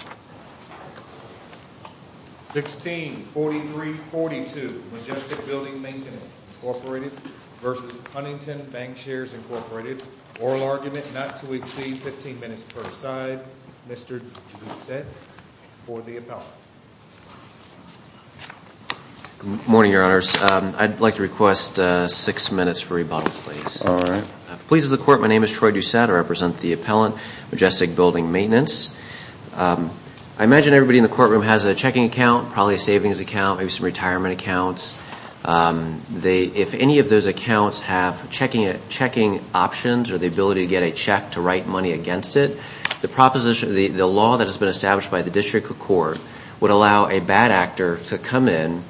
164342 Majestic Building Maintenance, Inc. v. Huntington Bancshares, Inc. Oral argument not to exceed 15 minutes per side. Mr. Doucette for the appellant. Good morning, Your Honors. I'd like to request six minutes for rebuttal, please. If it pleases the Court, my name is Troy Doucette. I represent the appellant, Majestic Building Maintenance. I imagine everybody in the courtroom has a checking account, probably a savings account, maybe some retirement accounts. If any of those accounts have checking options or the ability to get a check to write money against it, the law that has been established by the District Court would allow a bad actor to come in,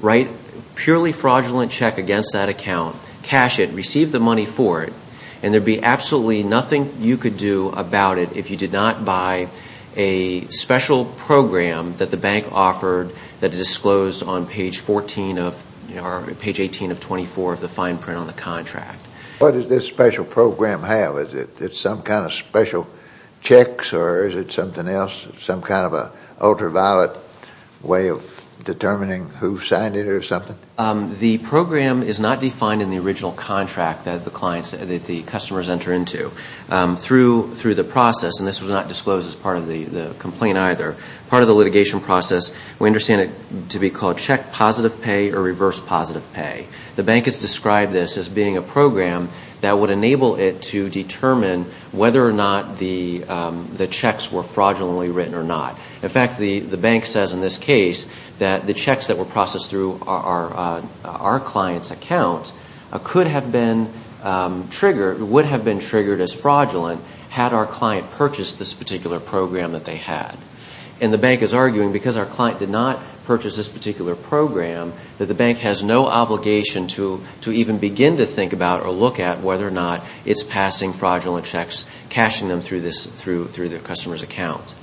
write a purely fraudulent check against that account, cash it, receive the money for it, and there'd be absolutely nothing you could do about it if you did not buy a special program that the bank offered that is disclosed on page 18 of 24 of the fine print on the contract. What does this special program have? Is it some kind of special checks or is it something else, some kind of an ultraviolet way of determining who signed it or something? The program is not defined in the original contract that the customers enter into. Through the process, and this was not disclosed as part of the complaint either, part of the litigation process, we understand it to be called check positive pay or reverse positive pay. The bank has described this as being a program that would enable it to determine whether or not the checks were fraudulently written or not. In fact, the bank says in this case that the checks that were processed through our client's account would have been triggered as fraudulent had our client purchased this particular program that they had. And the bank is arguing, because our client did not purchase this particular program, that the bank has no obligation to even begin to think about or look at whether or not it's passing fraudulent checks, cashing them through the customer's account.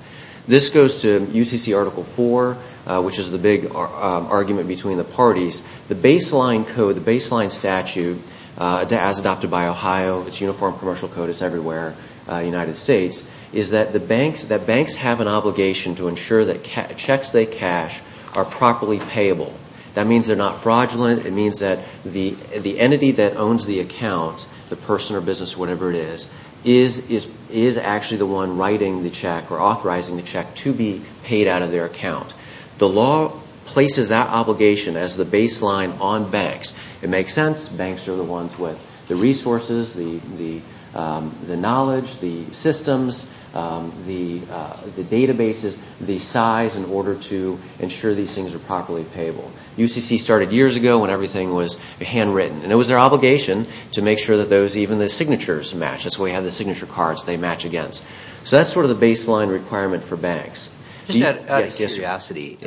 This goes to UCC Article 4, which is the big argument between the parties. The baseline code, the baseline statute, as adopted by Ohio, its uniform commercial code is everywhere in the United States, is that banks have an obligation to ensure that checks they cash are properly payable. That means they're not fraudulent. It means that the entity that owns the account, the person or business or whatever it is, is actually the one writing the check or authorizing the check to be paid out of their account. The law places that obligation as the baseline on banks. It makes sense. Banks are the ones with the resources, the knowledge, the systems, the databases, the size in order to ensure these things are properly payable. UCC started years ago when everything was handwritten. And it was their obligation to make sure that even the signatures matched. That's why you have the signature cards they match against. So that's sort of the baseline requirement for banks. Just out of curiosity,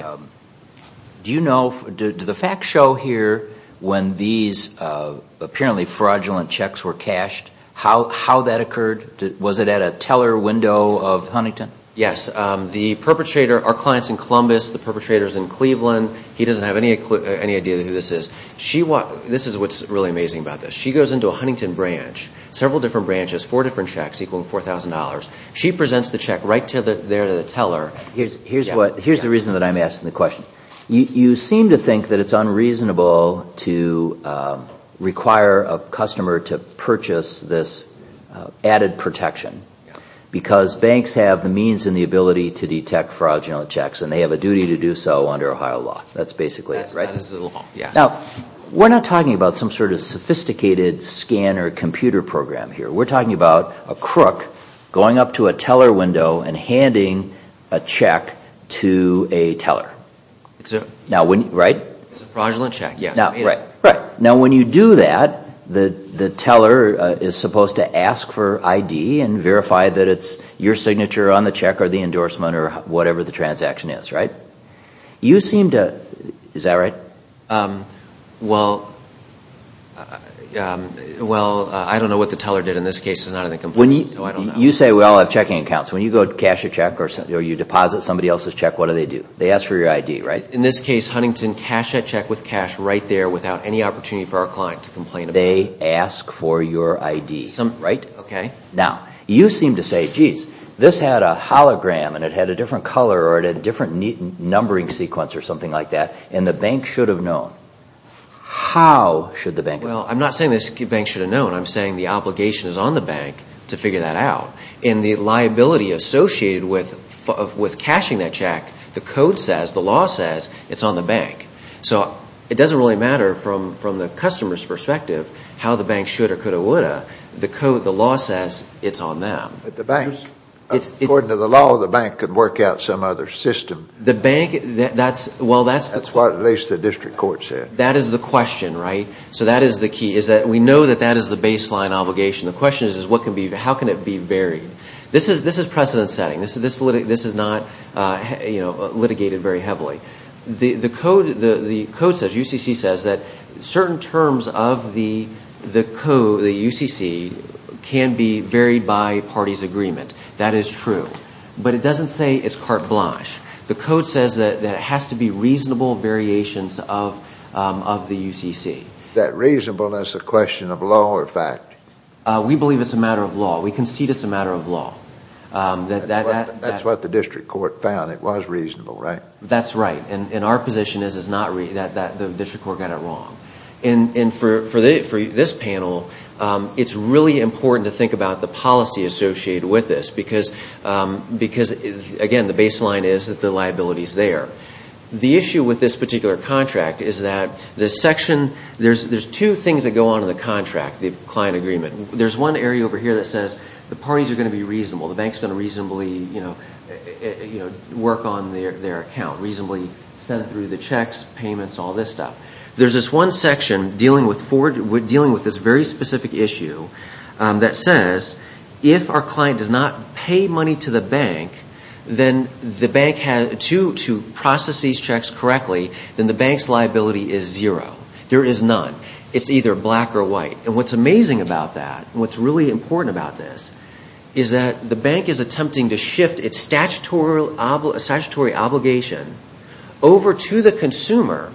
do you know, do the facts show here when these apparently fraudulent checks were cashed, how that occurred? Was it at a teller window of Huntington? Yes. The perpetrator, our client's in Columbus. The perpetrator's in Cleveland. He doesn't have any idea who this is. This is what's really amazing about this. She goes into a Huntington branch, several different branches, four different checks equaling $4,000. She presents the check right there to the teller. Here's the reason that I'm asking the question. You seem to think that it's unreasonable to require a customer to purchase this added protection because banks have the means and the ability to detect fraudulent checks, and they have a duty to do so under Ohio law. That's basically it, right? That is the law, yes. Now, we're not talking about some sort of sophisticated scan or computer program here. We're talking about a crook going up to a teller window and handing a check to a teller, right? It's a fraudulent check, yes. Now, when you do that, the teller is supposed to ask for ID and verify that it's your signature on the check or the endorsement or whatever the transaction is, right? You seem to, is that right? Well, I don't know what the teller did in this case. It's not in the complaint, so I don't know. You say we all have checking accounts. When you go cash a check or you deposit somebody else's check, what do they do? They ask for your ID, right? In this case, Huntington cashed that check with cash right there without any opportunity for our client to complain about it. They ask for your ID, right? Okay. Now, you seem to say, geez, this had a hologram and it had a different color or it had a different numbering sequence or something like that, and the bank should have known. How should the bank have known? Well, I'm not saying the bank should have known. I'm saying the obligation is on the bank to figure that out. And the liability associated with cashing that check, the code says, the law says, it's on the bank. So it doesn't really matter from the customer's perspective how the bank should or could have would have. The law says it's on them. But the bank, according to the law, the bank could work out some other system. That's what at least the district court said. That is the question, right? So that is the key, is that we know that that is the baseline obligation. The question is, how can it be varied? This is precedent setting. This is not litigated very heavily. The code says, UCC says, that certain terms of the code, the UCC, can be varied by parties' agreement. That is true. But it doesn't say it's carte blanche. The code says that it has to be reasonable variations of the UCC. Is that reasonable as a question of law or fact? We believe it's a matter of law. We concede it's a matter of law. That's what the district court found. It was reasonable, right? That's right. And our position is that the district court got it wrong. And for this panel, it's really important to think about the policy associated with this. Because, again, the baseline is that the liability is there. The issue with this particular contract is that there's two things that go on in the contract, the client agreement. There's one area over here that says the parties are going to be reasonable. The bank is going to reasonably work on their account, reasonably send through the checks, payments, all this stuff. There's this one section dealing with this very specific issue that says if our client does not pay money to the bank to process these checks correctly, then the bank's liability is zero. There is none. It's either black or white. And what's amazing about that and what's really important about this is that the bank is attempting to shift its statutory obligation over to the consumer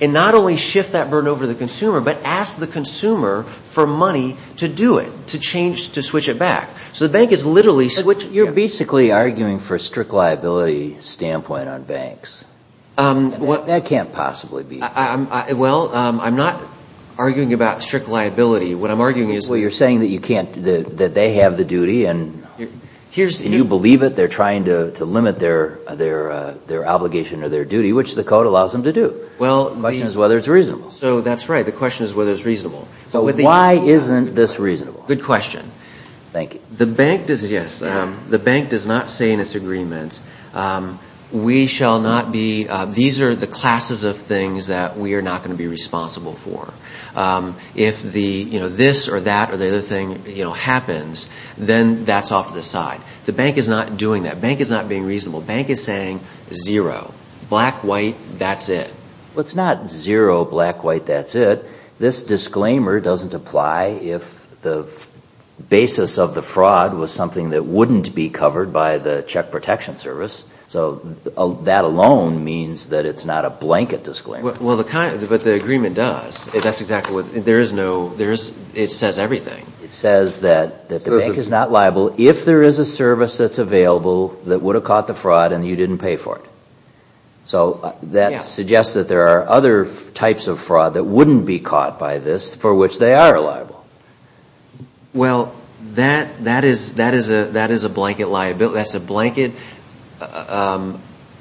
and not only shift that burden over to the consumer, but ask the consumer for money to do it, to change, to switch it back. So the bank is literally switching. You're basically arguing for a strict liability standpoint on banks. That can't possibly be. Well, I'm not arguing about strict liability. What I'm arguing is you're saying that you can't, that they have the duty and you believe it, they're trying to limit their obligation or their duty, which the code allows them to do. The question is whether it's reasonable. So that's right. The question is whether it's reasonable. So why isn't this reasonable? Good question. Thank you. The bank does not say in its agreement, we shall not be, these are the classes of things that we are not going to be responsible for. If this or that or the other thing happens, then that's off to the side. The bank is not doing that. Bank is not being reasonable. Bank is saying zero, black, white, that's it. Well, it's not zero, black, white, that's it. This disclaimer doesn't apply if the basis of the fraud was something that wouldn't be covered by the check protection service. So that alone means that it's not a blanket disclaimer. But the agreement does. That's exactly what, there is no, it says everything. It says that the bank is not liable if there is a service that's available that would have caught the fraud and you didn't pay for it. So that suggests that there are other types of fraud that wouldn't be caught by this for which they are liable. Well, that is a blanket liability. That's a blanket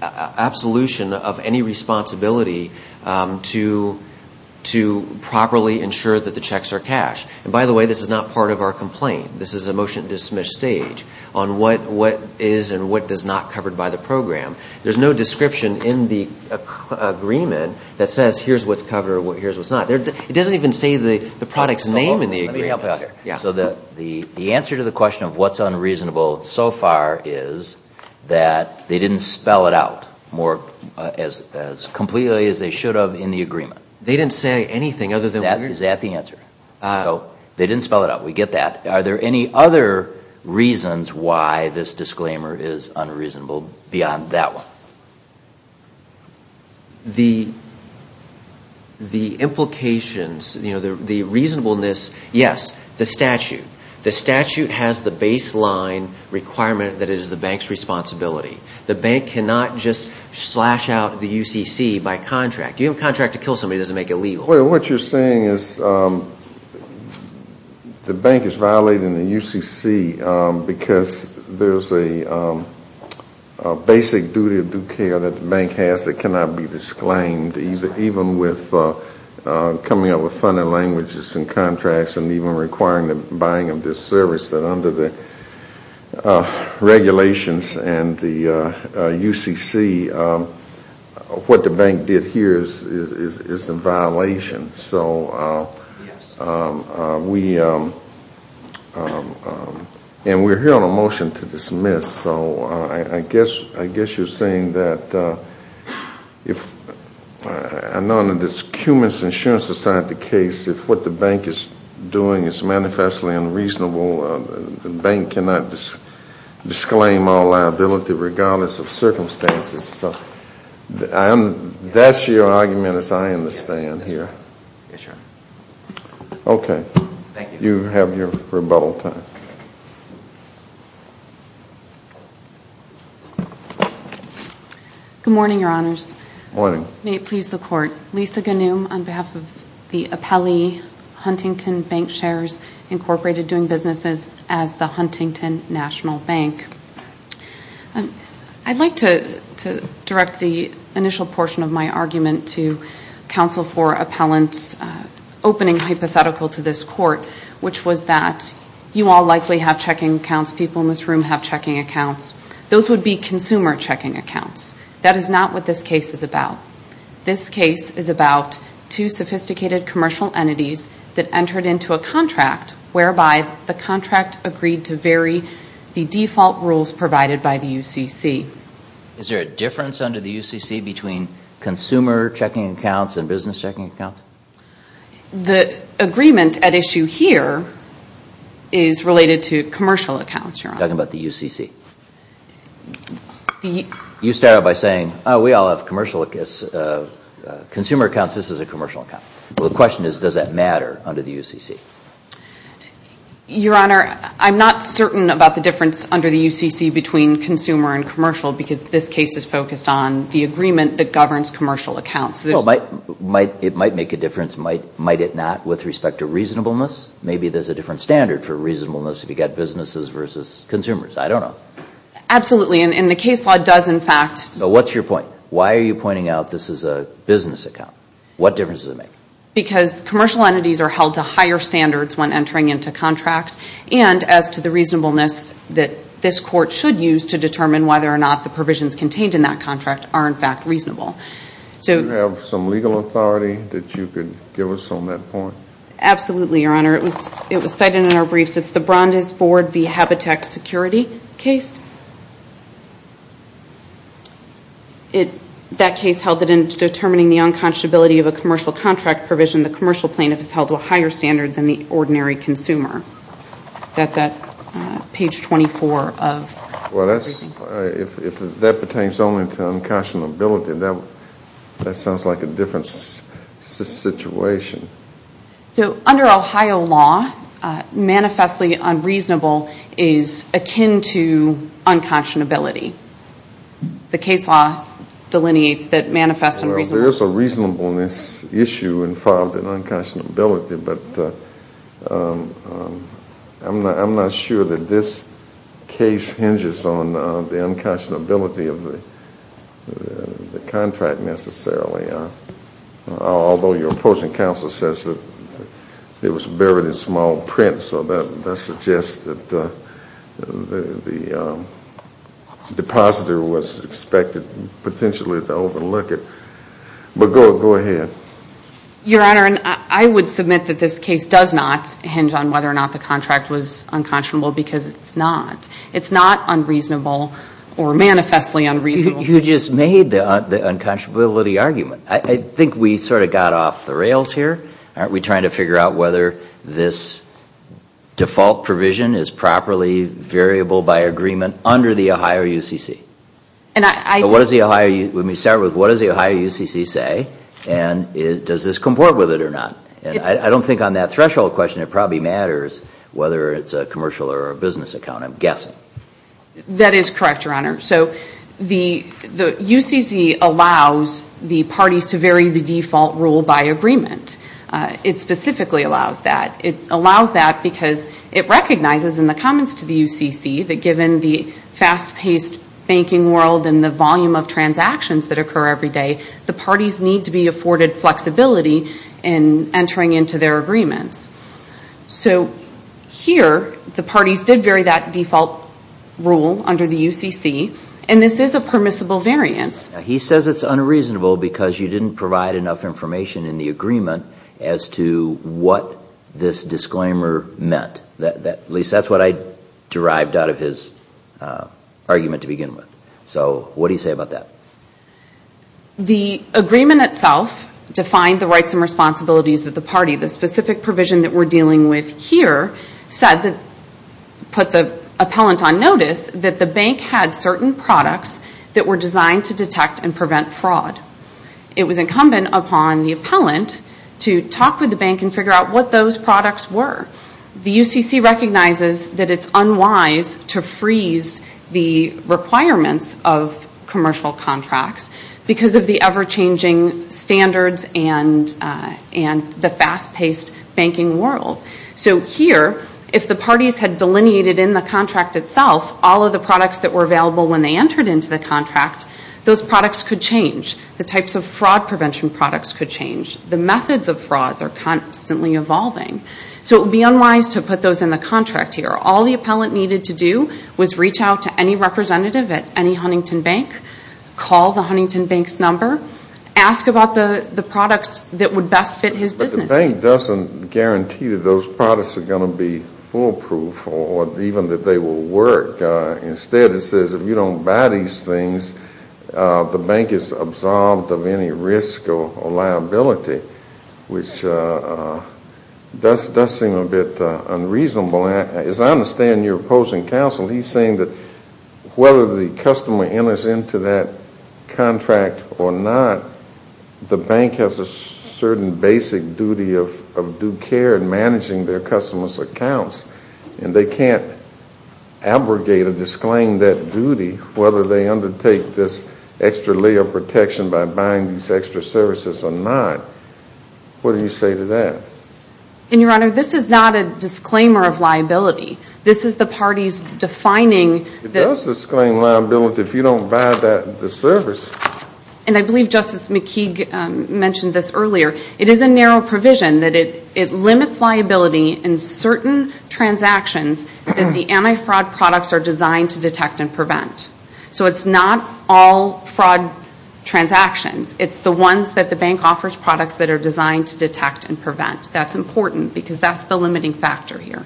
absolution of any responsibility to properly ensure that the checks are cashed. And by the way, this is not part of our complaint. This is a motion to dismiss stage on what is and what is not covered by the program. There's no description in the agreement that says here's what's covered or here's what's not. It doesn't even say the product's name in the agreement. So the answer to the question of what's unreasonable so far is that they didn't spell it out as completely as they should have in the agreement. They didn't say anything other than weird. Is that the answer? So they didn't spell it out. We get that. Are there any other reasons why this disclaimer is unreasonable beyond that one? The implications, the reasonableness, yes, the statute. The statute has the baseline requirement that it is the bank's responsibility. The bank cannot just slash out the UCC by contract. You have a contract to kill somebody that doesn't make it legal. Well, what you're saying is the bank is violating the UCC because there's a basic duty of due care that the bank has that cannot be disclaimed, even with coming up with funding languages and contracts and even requiring the buying of this service, that under the regulations and the UCC, what the bank did here is a violation. So we're hearing a motion to dismiss. So I guess you're saying that I know under this Cummins Insurance Society case, if what the bank is doing is manifestly unreasonable, the bank cannot disclaim all liability regardless of circumstances. That's your argument as I understand here. Yes, sir. Okay. Thank you. You have your rebuttal time. Good morning, Your Honors. Good morning. May it please the Court. Lisa Ganum on behalf of the Appellee Huntington Bank Shares, Incorporated, doing businesses as the Huntington National Bank. I'd like to direct the initial portion of my argument to Counsel for Appellants' opening hypothetical to this Court, which was that you all likely have checking accounts. People in this room have checking accounts. Those would be consumer checking accounts. That is not what this case is about. This case is about two sophisticated commercial entities that entered into a contract whereby the contract agreed to vary the default rules provided by the UCC. Is there a difference under the UCC between consumer checking accounts and business checking accounts? The agreement at issue here is related to commercial accounts, Your Honor. I'm talking about the UCC. You started by saying, oh, we all have consumer accounts. This is a commercial account. The question is, does that matter under the UCC? Your Honor, I'm not certain about the difference under the UCC between consumer and commercial because this case is focused on the agreement that governs commercial accounts. It might make a difference. Might it not with respect to reasonableness? Maybe there's a different standard for reasonableness if you've got businesses versus consumers. I don't know. Absolutely. And the case law does, in fact— What's your point? Why are you pointing out this is a business account? What difference does it make? Because commercial entities are held to higher standards when entering into contracts and as to the reasonableness that this court should use to determine whether or not the provisions contained in that contract are, in fact, reasonable. Do you have some legal authority that you could give us on that point? Absolutely, Your Honor. It was cited in our briefs. It's the Brandeis Board v. Habitat Security case. That case held that in determining the unconscionability of a commercial contract provision, the commercial plaintiff is held to a higher standard than the ordinary consumer. That's at page 24 of— Well, if that pertains only to unconscionability, that sounds like a different situation. So under Ohio law, manifestly unreasonable is akin to unconscionability. The case law delineates that manifest unreasonable— There is a reasonableness issue involved in unconscionability, but I'm not sure that this case hinges on the unconscionability of the contract necessarily. Although your opposing counsel says that it was buried in small print, so that suggests that the depositor was expected potentially to overlook it. But go ahead. Your Honor, I would submit that this case does not hinge on whether or not the contract was unconscionable because it's not. It's not unreasonable or manifestly unreasonable. You just made the unconscionability argument. I think we sort of got off the rails here. Aren't we trying to figure out whether this default provision is properly variable by agreement under the Ohio UCC? Let me start with, what does the Ohio UCC say, and does this comport with it or not? I don't think on that threshold question it probably matters whether it's a commercial or a business account, I'm guessing. That is correct, Your Honor. So the UCC allows the parties to vary the default rule by agreement. It specifically allows that. It allows that because it recognizes in the comments to the UCC that given the fast-paced banking world and the volume of transactions that occur every day, the parties need to be afforded flexibility in entering into their agreements. So here, the parties did vary that default rule under the UCC, and this is a permissible variance. He says it's unreasonable because you didn't provide enough information in the agreement as to what this disclaimer meant. At least that's what I derived out of his argument to begin with. So what do you say about that? The agreement itself defined the rights and responsibilities of the party. The specific provision that we're dealing with here put the appellant on notice that the bank had certain products that were designed to detect and prevent fraud. It was incumbent upon the appellant to talk with the bank and figure out what those products were. The UCC recognizes that it's unwise to freeze the requirements of commercial contracts because of the ever-changing standards and the fast-paced banking world. So here, if the parties had delineated in the contract itself all of the products that were available when they entered into the contract, those products could change. The types of fraud prevention products could change. The methods of fraud are constantly evolving. So it would be unwise to put those in the contract here. All the appellant needed to do was reach out to any representative at any Huntington Bank, call the Huntington Bank's number, ask about the products that would best fit his business needs. But the bank doesn't guarantee that those products are going to be foolproof or even that they will work. Instead, it says if you don't buy these things, the bank is absolved of any risk or liability, which does seem a bit unreasonable. As I understand your opposing counsel, he's saying that whether the customer enters into that contract or not, the bank has a certain basic duty of due care in managing their customers' accounts, and they can't abrogate or disclaim that duty, whether they undertake this extra layer of protection by buying these extra services or not. What do you say to that? And, Your Honor, this is not a disclaimer of liability. This is the party's defining. It does disclaim liability if you don't buy the service. And I believe Justice McKeague mentioned this earlier. It is a narrow provision that it limits liability in certain transactions that the anti-fraud products are designed to detect and prevent. So it's not all fraud transactions. It's the ones that the bank offers products that are designed to detect and prevent. That's important because that's the limiting factor here.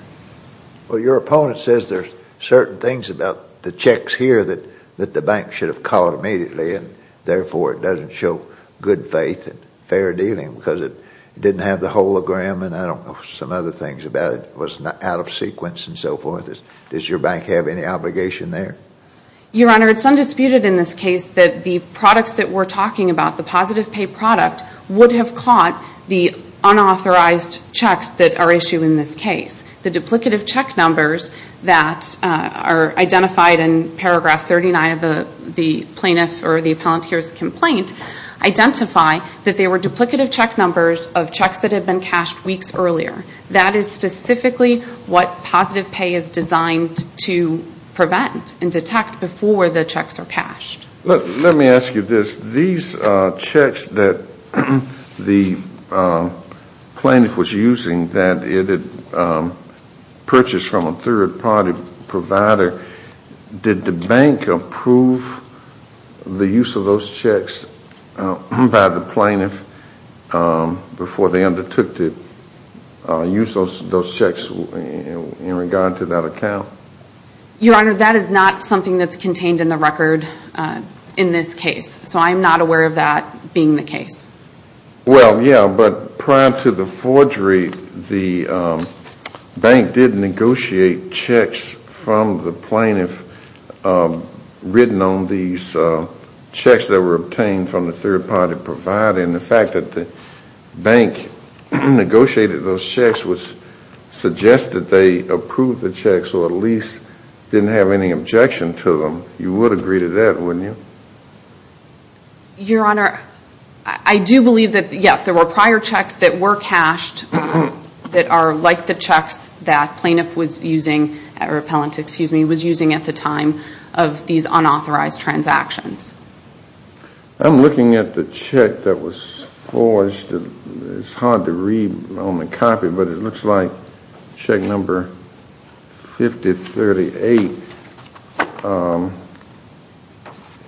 Well, your opponent says there's certain things about the checks here that the bank should have called immediately, and therefore it doesn't show good faith and fair dealing because it didn't have the hologram and I don't know some other things about it. It was out of sequence and so forth. Does your bank have any obligation there? Your Honor, it's undisputed in this case that the products that we're talking about, the positive pay product, would have caught the unauthorized checks that are issued in this case. The duplicative check numbers that are identified in paragraph 39 of the plaintiff or the appellant here's complaint identify that they were duplicative check numbers of checks that had been cashed weeks earlier. That is specifically what positive pay is designed to prevent and detect before the checks are cashed. Let me ask you this. These checks that the plaintiff was using that it had purchased from a third-party provider, did the bank approve the use of those checks by the plaintiff before they undertook to use those checks in regard to that account? Your Honor, that is not something that's contained in the record in this case. So I am not aware of that being the case. Well, yeah, but prior to the forgery, the bank did negotiate checks from the plaintiff written on these checks that were obtained from the third-party provider. And the fact that the bank negotiated those checks would suggest that they approved the checks or at least didn't have any objection to them. You would agree to that, wouldn't you? Your Honor, I do believe that, yes, there were prior checks that were cashed that are like the checks that the plaintiff was using at the time of these unauthorized transactions. I'm looking at the check that was forged. It's hard to read on the copy, but it looks like check number 5038.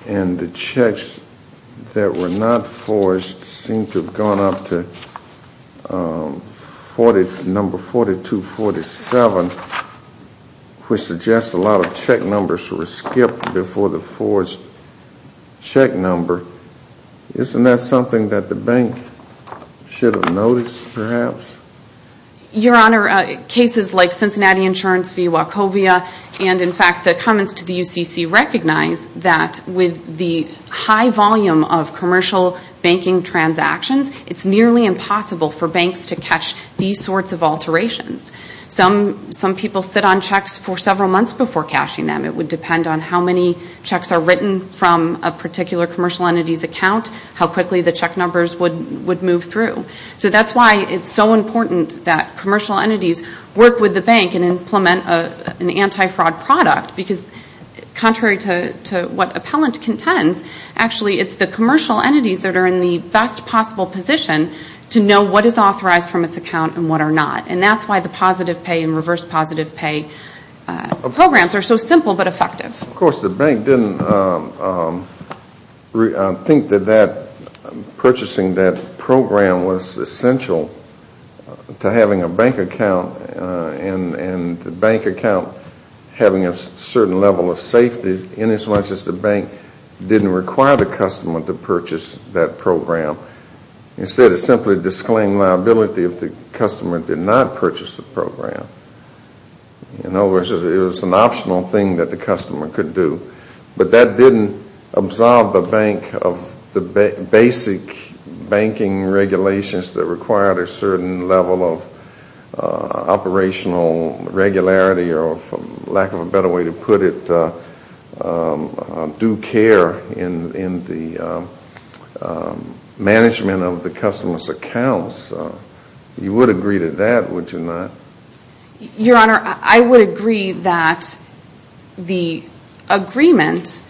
And the checks that were not forged seem to have gone up to number 4247, which suggests a lot of check numbers were skipped before the forged check number. Isn't that something that the bank should have noticed, perhaps? Your Honor, cases like Cincinnati Insurance v. Wachovia and, in fact, the comments to the UCC recognize that with the high volume of commercial banking transactions, it's nearly impossible for banks to catch these sorts of alterations. Some people sit on checks for several months before cashing them. It would depend on how many checks are written from a particular commercial entity's account, how quickly the check numbers would move through. So that's why it's so important that commercial entities work with the bank and implement an anti-fraud product because, contrary to what appellant contends, actually it's the commercial entities that are in the best possible position to know what is authorized from its account and what are not. And that's why the positive pay and reverse positive pay programs are so simple but effective. Of course, the bank didn't think that purchasing that program was essential to having a bank account and the bank account having a certain level of safety in as much as the bank didn't require the customer to purchase that program. Instead, it simply disclaimed liability if the customer did not purchase the program. It was an optional thing that the customer could do. But that didn't absolve the bank of the basic banking regulations that required a certain level of operational regularity or, for lack of a better way to put it, due care in the management of the customer's accounts. You would agree to that, would you not? Your Honor, I would agree that the agreement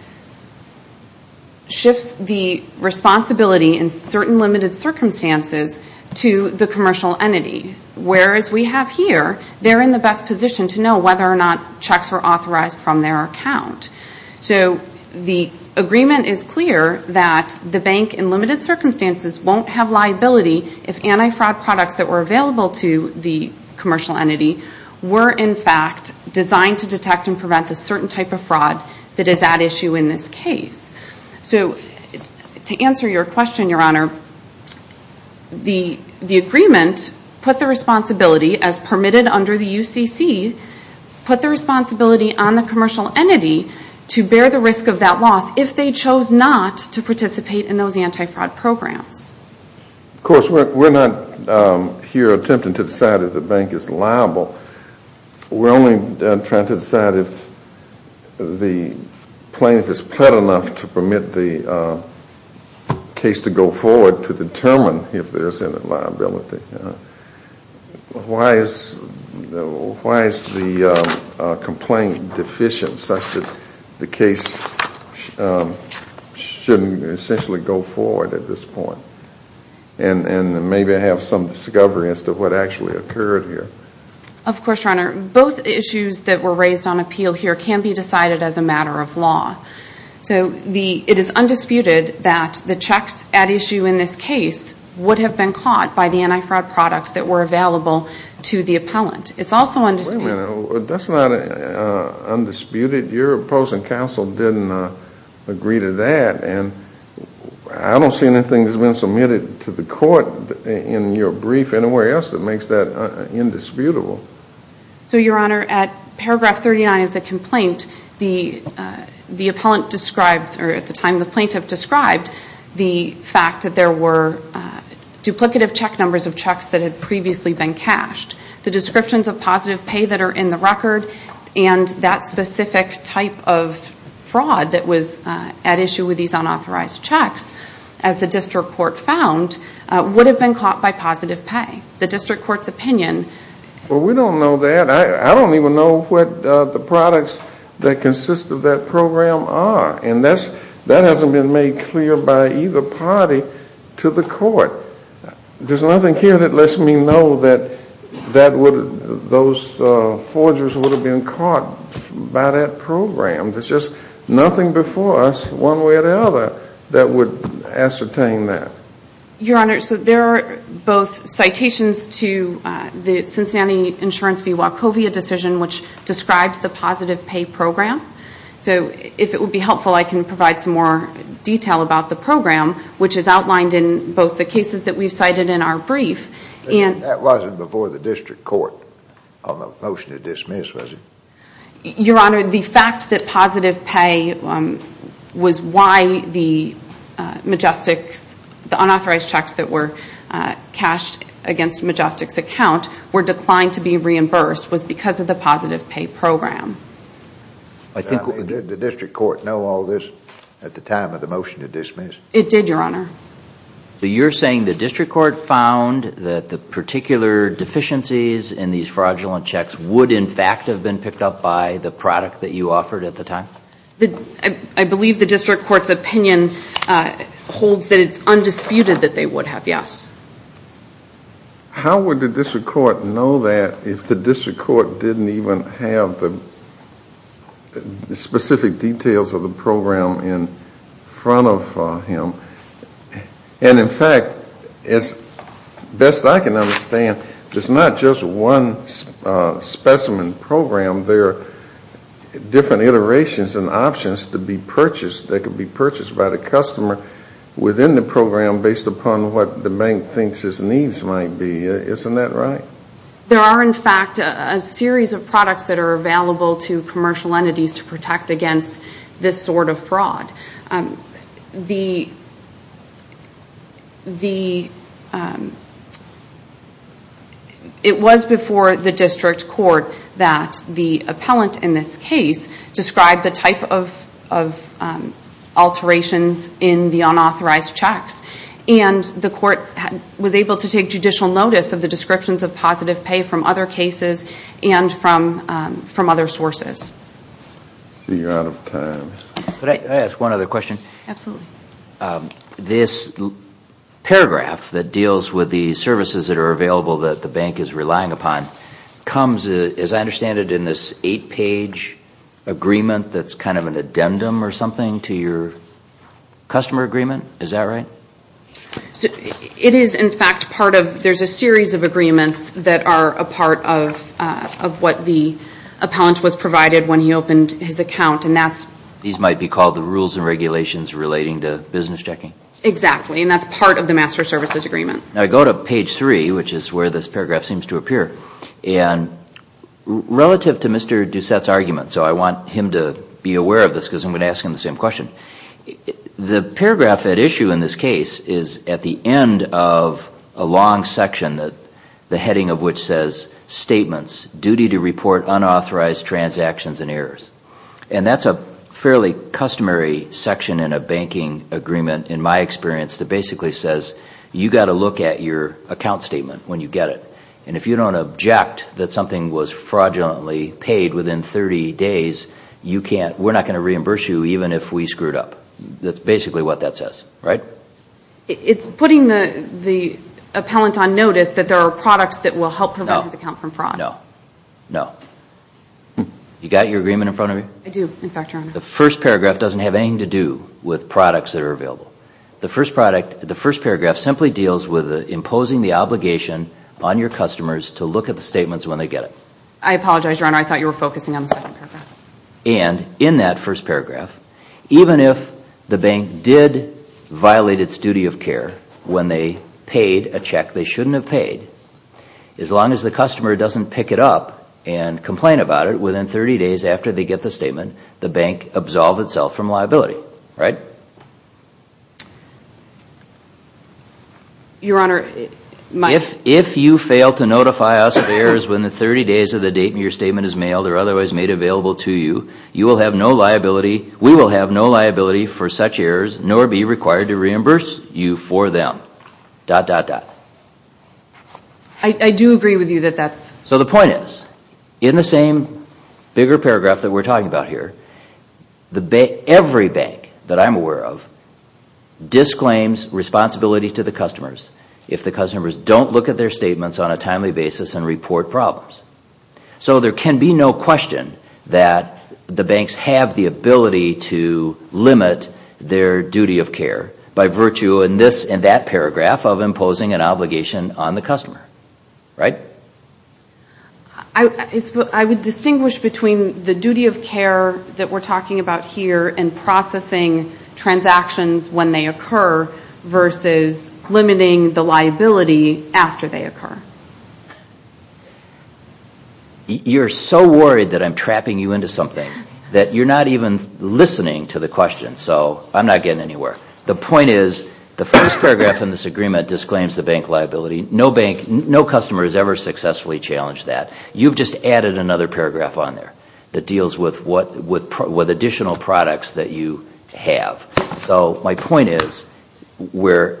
shifts the responsibility in certain limited circumstances to the commercial entity, whereas we have here, they're in the best position to know whether or not checks are authorized from their account. So the agreement is clear that the bank in limited circumstances won't have liability if anti-fraud products that were available to the commercial entity were, in fact, designed to detect and prevent the certain type of fraud that is at issue in this case. So to answer your question, Your Honor, the agreement put the responsibility, as permitted under the UCC, put the responsibility on the commercial entity to bear the risk of that loss if they chose not to participate in those anti-fraud programs. Of course, we're not here attempting to decide if the bank is liable. We're only trying to decide if the plaintiff is plead enough to permit the case to go forward to determine if there's any liability. Why is the complaint deficient such that the case shouldn't essentially go forward at this point? And maybe I have some discovery as to what actually occurred here. Of course, Your Honor. Both issues that were raised on appeal here can be decided as a matter of law. So it is undisputed that the checks at issue in this case would have been caught by the anti-fraud products that were available to the appellant. It's also undisputed. Wait a minute. That's not undisputed. Your opposing counsel didn't agree to that. And I don't see anything that's been submitted to the court in your brief anywhere else that makes that indisputable. So, Your Honor, at paragraph 39 of the complaint, the appellant described, or at the time the plaintiff described, the fact that there were duplicative check numbers of checks that had previously been cashed. The descriptions of positive pay that are in the record and that specific type of fraud that was at issue with these unauthorized checks, as the district court found, would have been caught by positive pay. The district court's opinion. Well, we don't know that. I don't even know what the products that consist of that program are. And that hasn't been made clear by either party to the court. There's nothing here that lets me know that those forgers would have been caught by that program. There's just nothing before us one way or the other that would ascertain that. Your Honor, so there are both citations to the Cincinnati Insurance v. Wachovia decision which describes the positive pay program. So, if it would be helpful, I can provide some more detail about the program, which is outlined in both the cases that we've cited in our brief. That wasn't before the district court on the motion to dismiss, was it? Your Honor, the fact that positive pay was why the unauthorized checks that were cashed against Majestic's account were declined to be reimbursed was because of the positive pay program. Did the district court know all this at the time of the motion to dismiss? It did, Your Honor. So you're saying the district court found that the particular deficiencies in these fraudulent checks would, in fact, have been picked up by the product that you offered at the time? I believe the district court's opinion holds that it's undisputed that they would have, yes. How would the district court know that if the district court didn't even have the specific details of the program in front of him? And, in fact, as best I can understand, there's not just one specimen program. There are different iterations and options that could be purchased by the customer within the program based upon what the bank thinks its needs might be. Isn't that right? There are, in fact, a series of products that are available to commercial entities to protect against this sort of fraud. The... It was before the district court that the appellant in this case described the type of alterations in the unauthorized checks, and the court was able to take judicial notice of the descriptions of positive pay from other cases and from other sources. So you're out of time. Could I ask one other question? Absolutely. This paragraph that deals with the services that are available that the bank is relying upon comes, as I understand it, in this eight-page agreement that's kind of an addendum or something to your customer agreement. Is that right? It is, in fact, part of... There's a series of agreements that are a part of what the appellant was provided when he opened his account, and that's... These might be called the rules and regulations relating to business checking? Exactly, and that's part of the master services agreement. I go to page three, which is where this paragraph seems to appear, and relative to Mr. Doucette's argument, so I want him to be aware of this because I'm going to ask him the same question, the paragraph at issue in this case is at the end of a long section, the heading of which says, statements, duty to report unauthorized transactions and errors. And that's a fairly customary section in a banking agreement, in my experience, that basically says you've got to look at your account statement when you get it. And if you don't object that something was fraudulently paid within 30 days, we're not going to reimburse you even if we screwed up. That's basically what that says, right? It's putting the appellant on notice that there are products that will help prevent his account from fraud. No, no, no. You got your agreement in front of you? I do, in fact, Your Honor. The first paragraph doesn't have anything to do with products that are available. The first paragraph simply deals with imposing the obligation on your customers to look at the statements when they get it. I apologize, Your Honor, I thought you were focusing on the second paragraph. And in that first paragraph, even if the bank did violate its duty of care when they paid a check they shouldn't have paid, as long as the customer doesn't pick it up and complain about it, within 30 days after they get the statement, the bank absolves itself from liability, right? Your Honor, my... If you fail to notify us of errors within the 30 days of the date your statement is mailed or otherwise made available to you, you will have no liability, we will have no liability for such errors, nor be required to reimburse you for them. Dot, dot, dot. I do agree with you that that's... So the point is, in the same bigger paragraph that we're talking about here, every bank that I'm aware of disclaims responsibility to the customers if the customers don't look at their statements on a timely basis and report problems. So there can be no question that the banks have the ability to limit their duty of care by virtue in this and that paragraph of imposing an obligation on the customer, right? I would distinguish between the duty of care that we're talking about here and processing transactions when they occur versus limiting the liability after they occur. You're so worried that I'm trapping you into something that you're not even listening to the question, so I'm not getting anywhere. The point is, the first paragraph in this agreement disclaims the bank liability. No bank, no customer has ever successfully challenged that. You've just added another paragraph on there that deals with additional products that you have. So my point is, where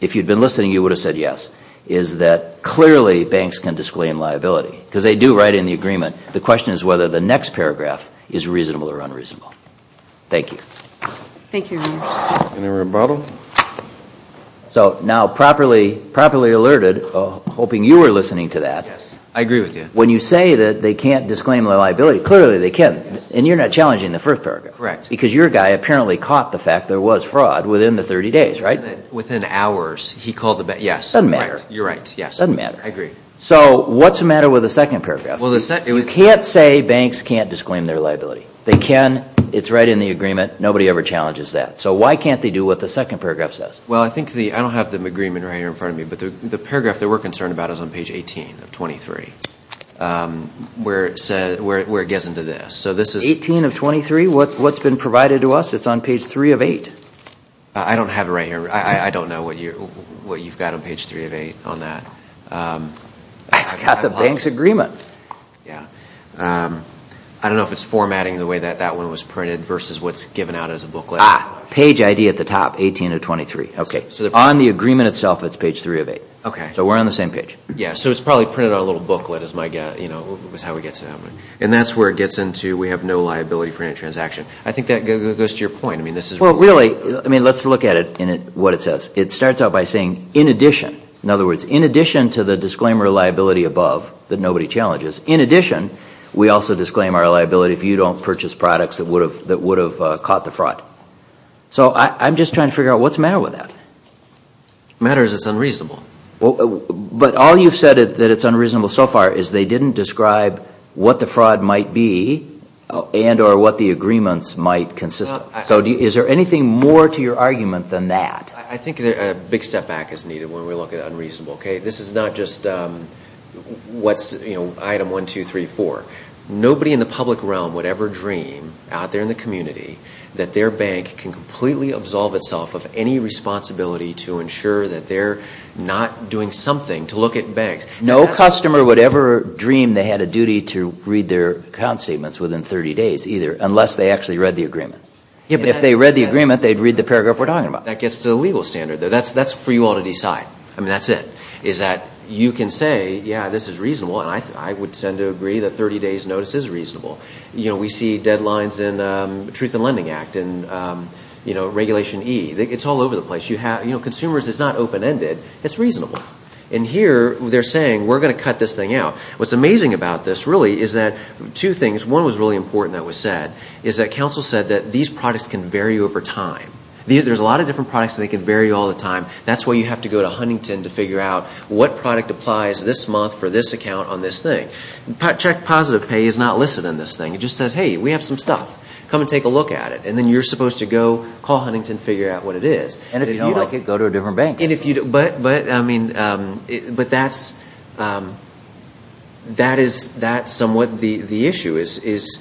if you'd been listening you would have said yes, is that clearly banks can disclaim liability because they do write in the agreement. The question is whether the next paragraph is reasonable or unreasonable. Thank you. Thank you, Your Honor. Any rebuttal? So now properly alerted, hoping you were listening to that. I agree with you. When you say that they can't disclaim the liability, clearly they can. And you're not challenging the first paragraph. Correct. Because your guy apparently caught the fact there was fraud within the 30 days, right? He said that within hours he called the bank. Yes, you're right. It doesn't matter. I agree. So what's the matter with the second paragraph? You can't say banks can't disclaim their liability. They can. It's right in the agreement. Nobody ever challenges that. So why can't they do what the second paragraph says? Well, I don't have the agreement right here in front of me, but the paragraph that we're concerned about is on page 18 of 23 where it gets into this. 18 of 23? What's been provided to us? It's on page 3 of 8. I don't have it right here. I don't know what you've got on page 3 of 8 on that. I've got the bank's agreement. Yeah. I don't know if it's formatting the way that that one was printed versus what's given out as a booklet. Page ID at the top, 18 of 23. Okay. On the agreement itself, it's page 3 of 8. So we're on the same page. Yeah, so it's probably printed on a little booklet is how we get to that one. And that's where it gets into we have no liability for any transaction. I think that goes to your point. Well, really, let's look at it and what it says. It starts out by saying, in addition. In other words, in addition to the disclaimer liability above that nobody challenges, in addition we also disclaim our liability if you don't purchase products that would have caught the fraud. So I'm just trying to figure out what's the matter with that. The matter is it's unreasonable. But all you've said is that it's unreasonable so far is they didn't describe what the fraud might be and or what the agreements might consist of. So is there anything more to your argument than that? I think a big step back is needed when we look at unreasonable. This is not just item 1, 2, 3, 4. Nobody in the public realm would ever dream out there in the community that their bank can completely absolve itself of any responsibility to ensure that they're not doing something to look at banks. No customer would ever dream they had a duty to read their account statements within 30 days either unless they actually read the agreement. And if they read the agreement, they'd read the paragraph we're talking about. That gets to the legal standard. That's for you all to decide. I mean, that's it. Is that you can say, yeah, this is reasonable, and I would tend to agree that 30 days notice is reasonable. You know, we see deadlines in the Truth in Lending Act and, you know, Regulation E. It's all over the place. You know, consumers, it's not open-ended. It's reasonable. And here they're saying, we're going to cut this thing out. What's amazing about this, really, is that two things. One was really important that was said, is that counsel said that these products can vary over time. There's a lot of different products, and they can vary all the time. That's why you have to go to Huntington to figure out what product applies this month for this account on this thing. Check positive pay is not listed in this thing. It just says, hey, we have some stuff. Come and take a look at it. And then you're supposed to go call Huntington and figure out what it is. And if you don't like it, go to a different bank. But, I mean, but that's somewhat the issue is,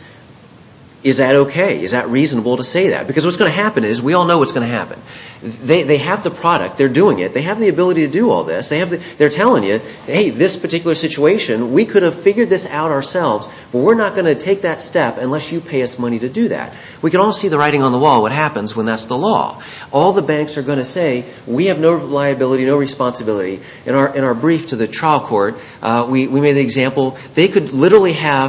is that okay? Is that reasonable to say that? Because what's going to happen is, we all know what's going to happen. They have the product. They're doing it. They have the ability to do all this. They're telling you, hey, this particular situation, we could have figured this out ourselves, but we're not going to take that step unless you pay us money to do that. We can all see the writing on the wall, what happens when that's the law. All the banks are going to say, we have no liability, no responsibility. In our brief to the trial court, we made the example, they could literally have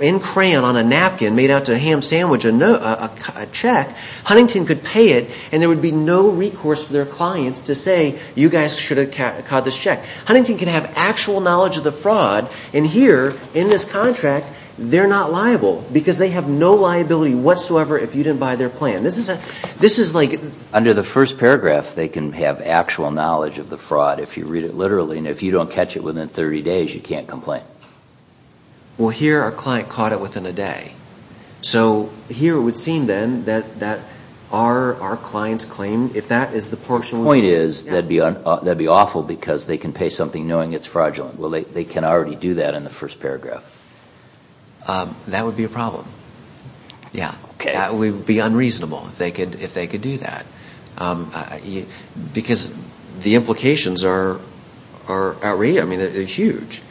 in crayon on a napkin made out to a ham sandwich a check. Huntington could pay it, and there would be no recourse for their clients to say, you guys should have caught this check. Huntington can have actual knowledge of the fraud, and here, in this contract, they're not liable because they have no liability whatsoever if you didn't buy their plan. This is like... Under the first paragraph, they can have actual knowledge of the fraud if you read it literally, and if you don't catch it within 30 days, you can't complain. Well, here, our client caught it within a day. So here, it would seem, then, that our client's claim, if that is the portion... The point is, that'd be awful because they can pay something knowing it's fraudulent. Well, they can already do that in the first paragraph. That would be a problem. Yeah. Okay. That would be unreasonable if they could do that because the implications are outrageous. I mean, they're huge.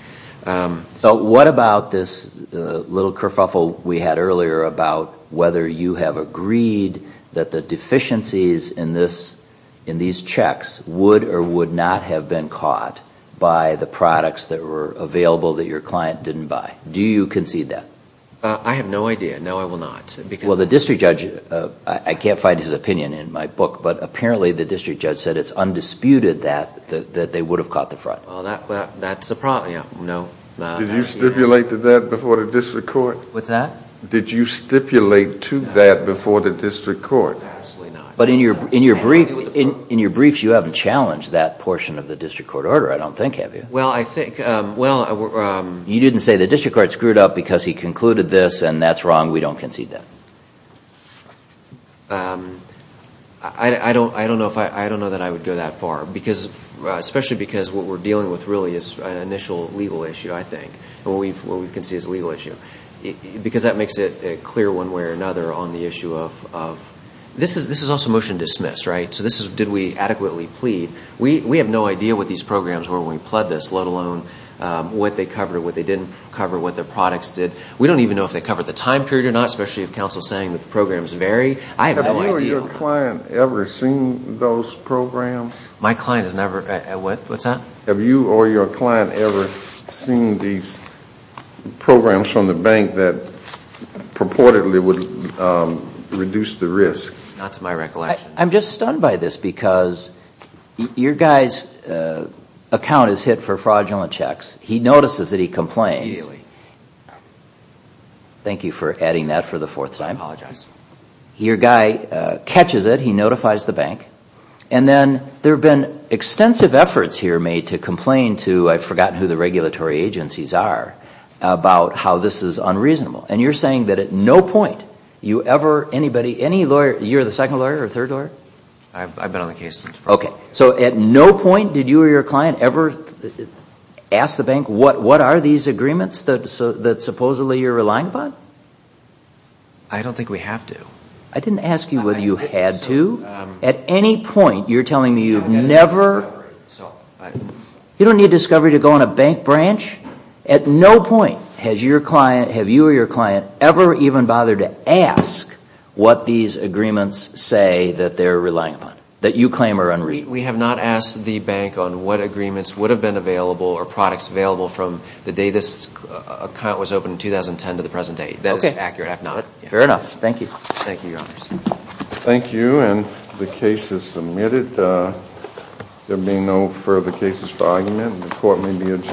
So what about this little kerfuffle we had earlier about whether you have agreed that the deficiencies in these checks would or would not have been caught by the products that were available that your client didn't buy? Do you concede that? I have no idea. No, I will not. Well, the district judge, I can't find his opinion in my book, but apparently the district judge said it's undisputed that they would have caught the fraud. Well, that's a problem. Did you stipulate to that before the district court? What's that? Did you stipulate to that before the district court? Absolutely not. But in your briefs, you haven't challenged that portion of the district court order, I don't think, have you? Well, I think... You didn't say the district court screwed up because he concluded this and that's wrong. We don't concede that. I don't know that I would go that far, especially because what we're dealing with really is an initial legal issue, I think. What we concede is a legal issue because that makes it clear one way or another on the issue of... This is also motion dismissed, right? So did we adequately plead? We have no idea what these programs were when we pled this, let alone what they covered, what they didn't cover, what their products did. We don't even know if they covered the time period or not, especially if counsel is saying that the programs vary. I have no idea. Have you or your client ever seen those programs? My client has never... What's that? Have you or your client ever seen these programs from the bank that purportedly would reduce the risk? Not to my recollection. I'm just stunned by this because your guy's account is hit for fraudulent checks. He notices that he complains. Immediately. Thank you for adding that for the fourth time. I apologize. Your guy catches it. He notifies the bank. And then there have been extensive efforts here made to complain to, I've forgotten who the regulatory agencies are, about how this is unreasonable. And you're saying that at no point you ever, anybody, any lawyer, you're the second lawyer or third lawyer? I've been on the case since... Okay. So at no point did you or your client ever ask the bank what are these agreements that supposedly you're relying upon? I don't think we have to. I didn't ask you whether you had to. At any point, you're telling me you've never... You don't need discovery to go on a bank branch. At no point has your client, have you or your client, ever even bothered to ask what these agreements say that they're relying upon, that you claim are unreasonable? We have not asked the bank on what agreements would have been available or products available from the day this account was opened in 2010 to the present day. That is accurate. Fair enough. Thank you. Thank you, Your Honors. Thank you. And the case is submitted. There being no further cases for argument, the court may be adjourned.